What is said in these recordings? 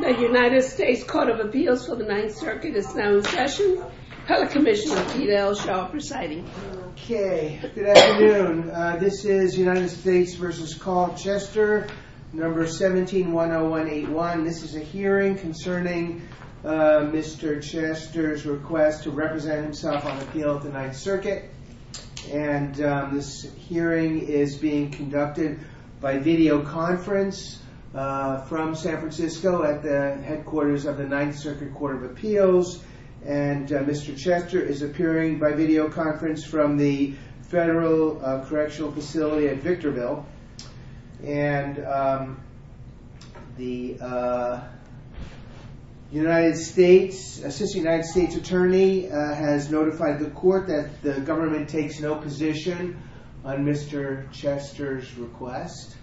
The United States Court of Appeals for the Ninth Circuit is now in session. Pellet Commissioner Pete L. Shaw presiding. Okay, good afternoon. This is United States v. Carl Chester, No. 17-10181. This is a hearing concerning Mr. Chester's request to represent himself on the appeal of the Ninth Circuit. And this hearing is being conducted by videoconference from San Francisco at the headquarters of the Ninth Circuit Court of Appeals. And Mr. Chester is appearing by videoconference from the Federal Correctional Facility at Victorville. And the United States, Assistant United States Attorney has notified the court that the government takes no position on Mr. Chester's request.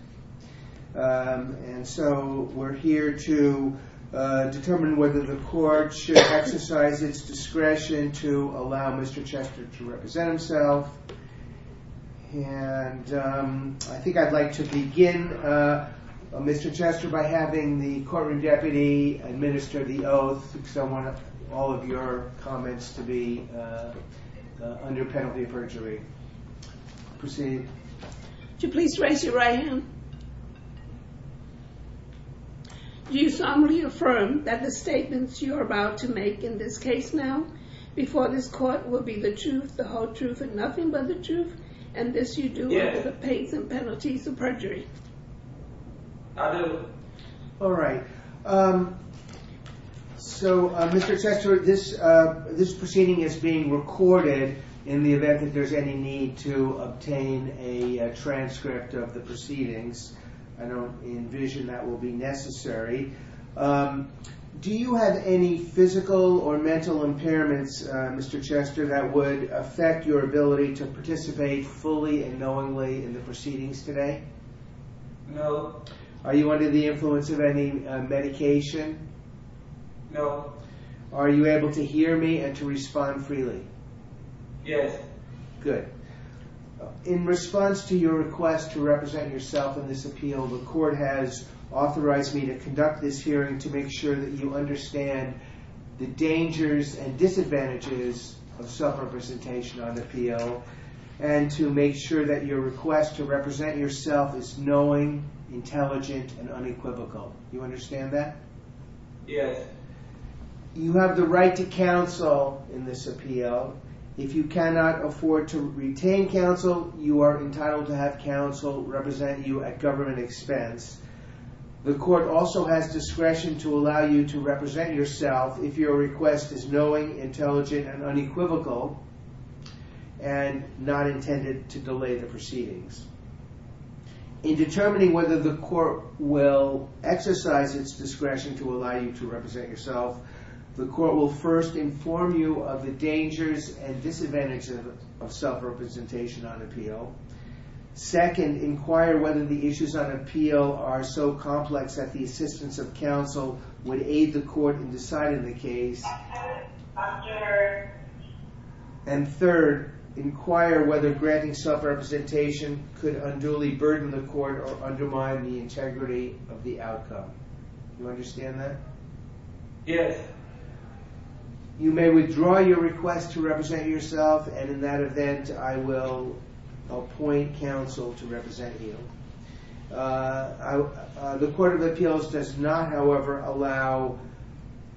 And so we're here to determine whether the court should exercise its discretion to allow Mr. Chester to represent himself. And I think I'd like to begin, Mr. Chester, by having the courtroom deputy administer the oath. Because I want all of your comments to be under penalty of perjury. Proceed. Would you please raise your right hand? Do you solemnly affirm that the statements you are about to make in this case now before this court will be the truth, the whole truth, and nothing but the truth? And this you do with the pains and penalties of perjury? I do. All right. So, Mr. Chester, this proceeding is being recorded in the event that there's any need to obtain a transcript of the proceedings. I don't envision that will be necessary. Do you have any physical or mental impairments, Mr. Chester, that would affect your ability to participate fully and knowingly in the proceedings today? No. Are you under the influence of any medication? No. Are you able to hear me and to respond freely? Yes. Good. In response to your request to represent yourself in this appeal, the court has authorized me to conduct this hearing to make sure that you understand the dangers and disadvantages of self-representation on appeal. And to make sure that your request to represent yourself is knowing, intelligent, and unequivocal. Do you understand that? Yes. You have the right to counsel in this appeal. If you cannot afford to retain counsel, you are entitled to have counsel represent you at government expense. The court also has discretion to allow you to represent yourself if your request is knowing, intelligent, and unequivocal, and not intended to delay the proceedings. In determining whether the court will exercise its discretion to allow you to represent yourself, the court will first inform you of the dangers and disadvantages of self-representation on appeal. Second, inquire whether the issues on appeal are so complex that the assistance of counsel would aid the court in deciding the case. And third, inquire whether granting self-representation could unduly burden the court or undermine the integrity of the outcome. Do you understand that? Yes. You may withdraw your request to represent yourself, and in that event, I will appoint counsel to represent you. The Court of Appeals does not, however, allow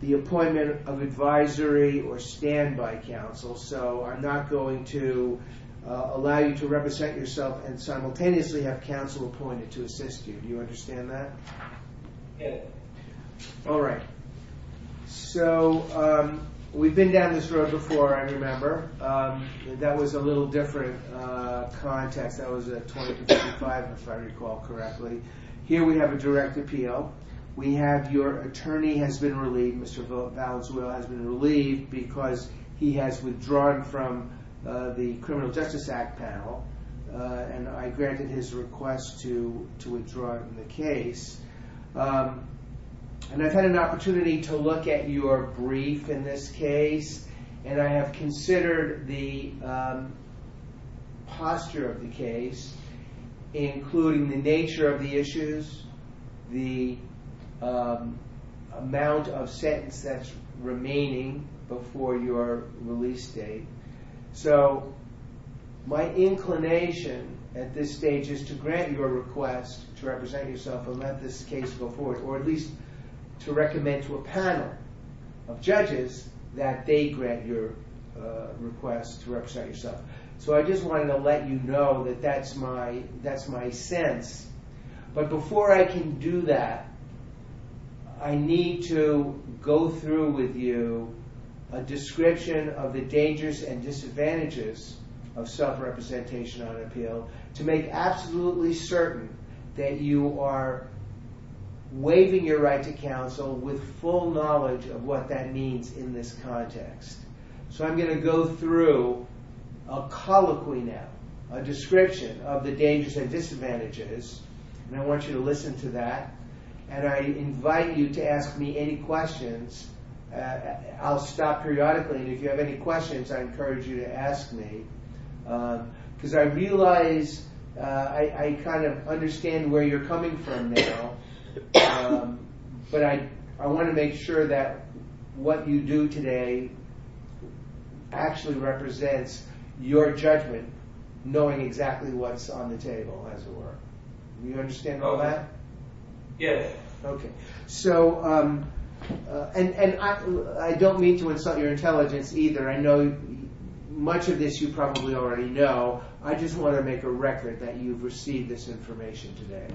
the appointment of advisory or standby counsel, so I'm not going to allow you to represent yourself and simultaneously have counsel appointed to assist you. Do you understand that? Yes. All right. So, we've been down this road before, I remember. That was a little different context. That was at 2055, if I recall correctly. Here we have a direct appeal. We have your attorney has been relieved, Mr. Valenzuela has been relieved because he has withdrawn from the Criminal Justice Act panel, and I granted his request to withdraw the case. And I've had an opportunity to look at your brief in this case, and I have considered the posture of the case, including the nature of the issues, the amount of sentence that's remaining before your release date. So, my inclination at this stage is to grant your request to represent yourself and let this case go forward, or at least to recommend to a panel of judges that they grant your request to represent yourself. So, I just wanted to let you know that that's my sense. But before I can do that, I need to go through with you a description of the dangers and disadvantages of self-representation on appeal to make absolutely certain that you are waiving your right to counsel with full knowledge of what that means in this context. So, I'm going to go through a colloquy now, a description of the dangers and disadvantages, and I want you to listen to that. And I invite you to ask me any questions. I'll stop periodically, and if you have any questions, I encourage you to ask me. Because I realize, I kind of understand where you're coming from now, but I want to make sure that what you do today actually represents your judgment, knowing exactly what's on the table, as it were. Do you understand all that? Yes. Okay. So, and I don't mean to insult your intelligence either. I know much of this you probably already know. I just want to make a record that you've received this information today.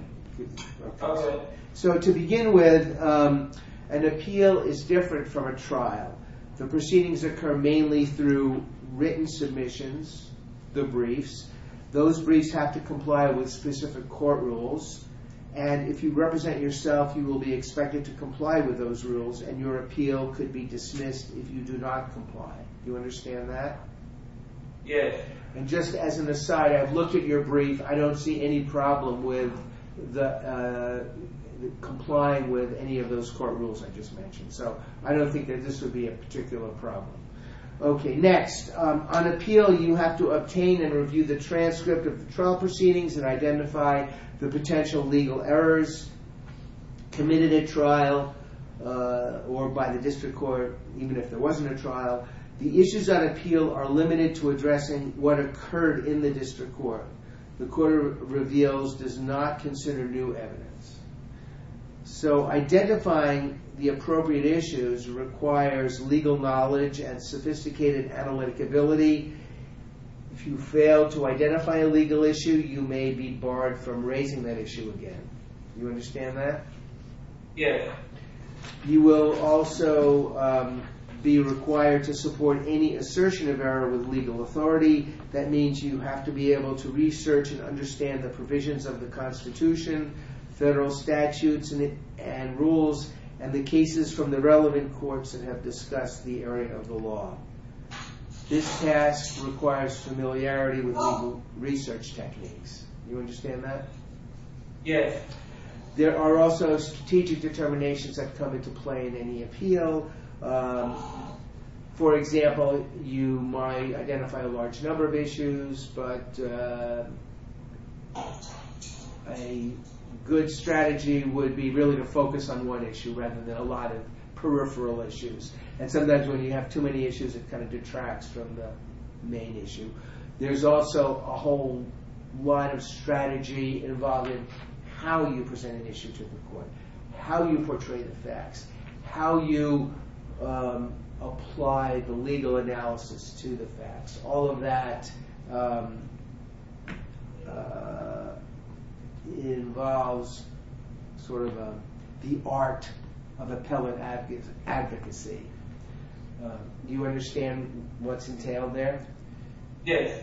So, to begin with, an appeal is different from a trial. The proceedings occur mainly through written submissions, the briefs. Those briefs have to comply with specific court rules. And if you represent yourself, you will be expected to comply with those rules, and your appeal could be dismissed if you do not comply. Do you understand that? Yes. Okay. And just as an aside, I've looked at your brief. I don't see any problem with complying with any of those court rules I just mentioned. So, I don't think that this would be a particular problem. Okay, next. On appeal, you have to obtain and review the transcript of the trial proceedings and identify the potential legal errors committed at trial or by the district court, even if there wasn't a trial. The issues on appeal are limited to addressing what occurred in the district court. The court of reveals does not consider new evidence. So, identifying the appropriate issues requires legal knowledge and sophisticated analytic ability. If you fail to identify a legal issue, you may be barred from raising that issue again. Do you understand that? Yes. You will also be required to support any assertion of error with legal authority. That means you have to be able to research and understand the provisions of the Constitution, federal statutes and rules, and the cases from the relevant courts that have discussed the area of the law. This task requires familiarity with legal research techniques. Do you understand that? Yes. Okay. There are also strategic determinations that come into play in any appeal. For example, you might identify a large number of issues, but a good strategy would be really to focus on one issue rather than a lot of peripheral issues. And sometimes when you have too many issues, it kind of detracts from the main issue. There's also a whole line of strategy involving how you present an issue to the court, how you portray the facts, how you apply the legal analysis to the facts. All of that involves sort of the art of appellate advocacy. Do you understand what's entailed there? Yes.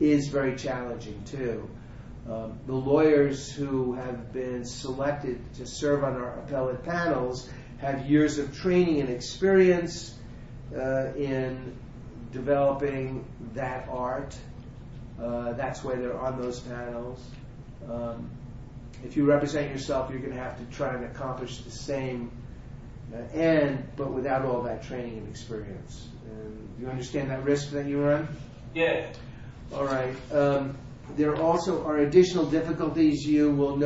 It's very challenging, too. The lawyers who have been selected to serve on our appellate panels have years of training and experience in developing that art. That's why they're on those panels. If you represent yourself, you're going to have to try and accomplish the same end, but without all that training and experience. Do you understand that risk that you run? Yes. Do you understand that? Yes. Do you understand that? Yes. All right. If counsel were to represent you, counsel would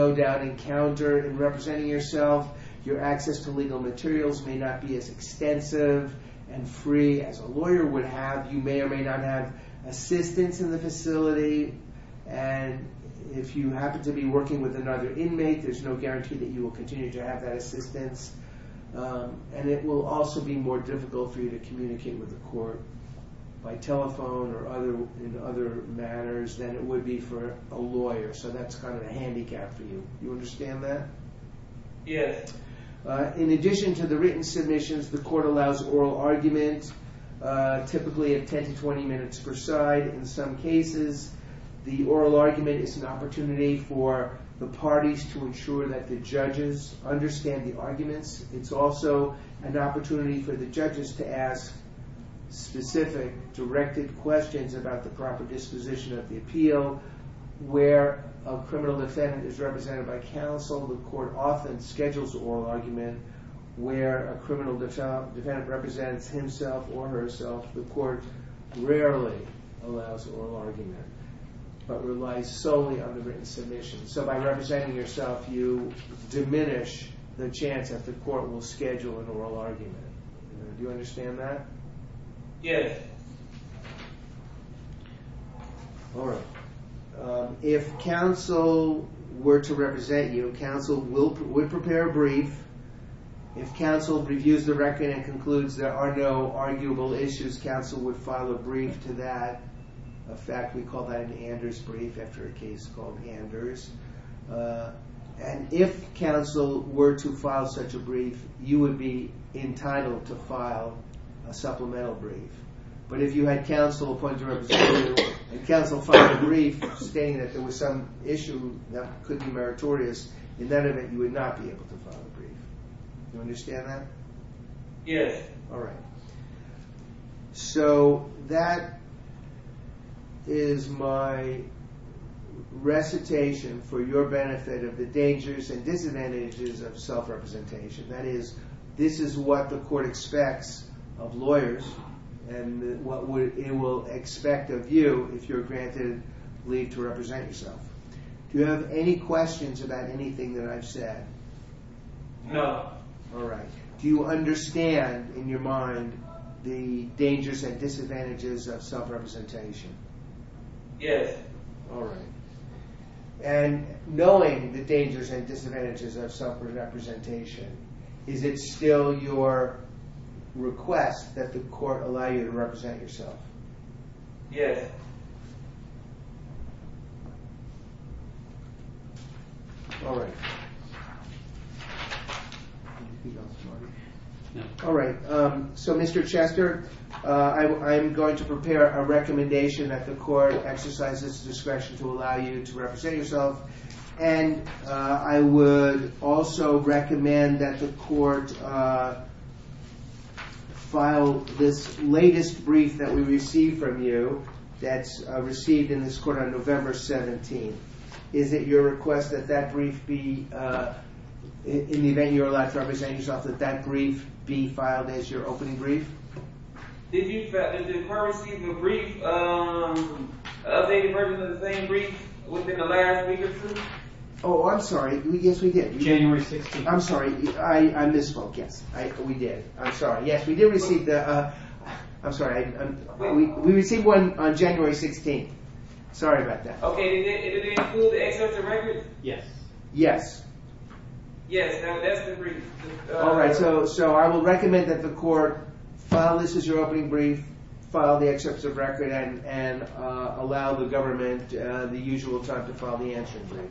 prepare a brief. If counsel reviews the record and concludes there are no arguable issues, counsel would file a brief to that. In fact, we call that an Anders brief after a case called Anders. And if counsel were to file such a brief, you would be entitled to file a supplemental brief. But if you had counsel appoint to represent you and counsel filed a brief stating that there was some issue that could be meritorious, in that event, you would not be able to file a brief. Do you understand that? Yes. All right. So that is my recitation for your benefit of the dangers and disadvantages of self-representation. That is, this is what the court expects of lawyers and what it will expect of you if you're granted leave to represent yourself. Do you have any questions about anything that I've said? No. All right. Do you understand in your mind the dangers and disadvantages of self-representation? Yes. All right. And knowing the dangers and disadvantages of self-representation, is it still your request that the court allow you to represent yourself? Yes. All right. All right. So, Mr. Chester, I'm going to prepare a recommendation that the court exercises discretion to allow you to represent yourself. And I would also recommend that the court file this latest brief that we received from you that's received in this court on November 17th. Is it your request that that brief be, in the event you're allowed to represent yourself, that that brief be filed as your opening brief? Did you, did the court receive a brief, an updated version of the same brief within the last week or two? Oh, I'm sorry. Yes, we did. January 16th. I'm sorry. I misspoke. Yes. We did. I'm sorry. Yes, we did receive the, I'm sorry. We received one on January 16th. Sorry about that. Okay. Did it include the excerpt of records? Yes. Yes. Yes. Now, that's the brief. All right. So, I will recommend that the court file this as your opening brief, file the excerpts of record, and allow the government the usual time to file the answering brief.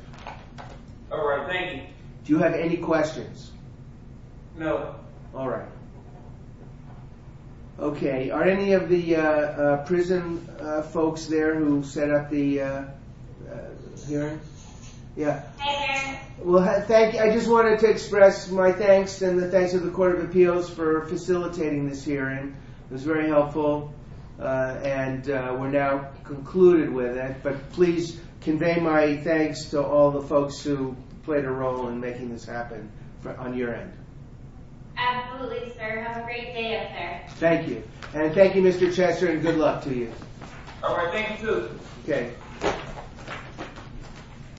All right. Thank you. Do you have any questions? No. All right. Okay. Are any of the prison folks there who set up the hearing? Yeah. Hey there. Well, thank you. I just wanted to express my thanks and the thanks of the Court of Appeals for facilitating this hearing. It was very helpful, and we're now concluded with it. But please convey my thanks to all the folks who played a role in making this happen on your end. Absolutely, sir. Have a great day out there. Thank you. And thank you, Mr. Chester, and good luck to you. All right. Thank you, too. Okay.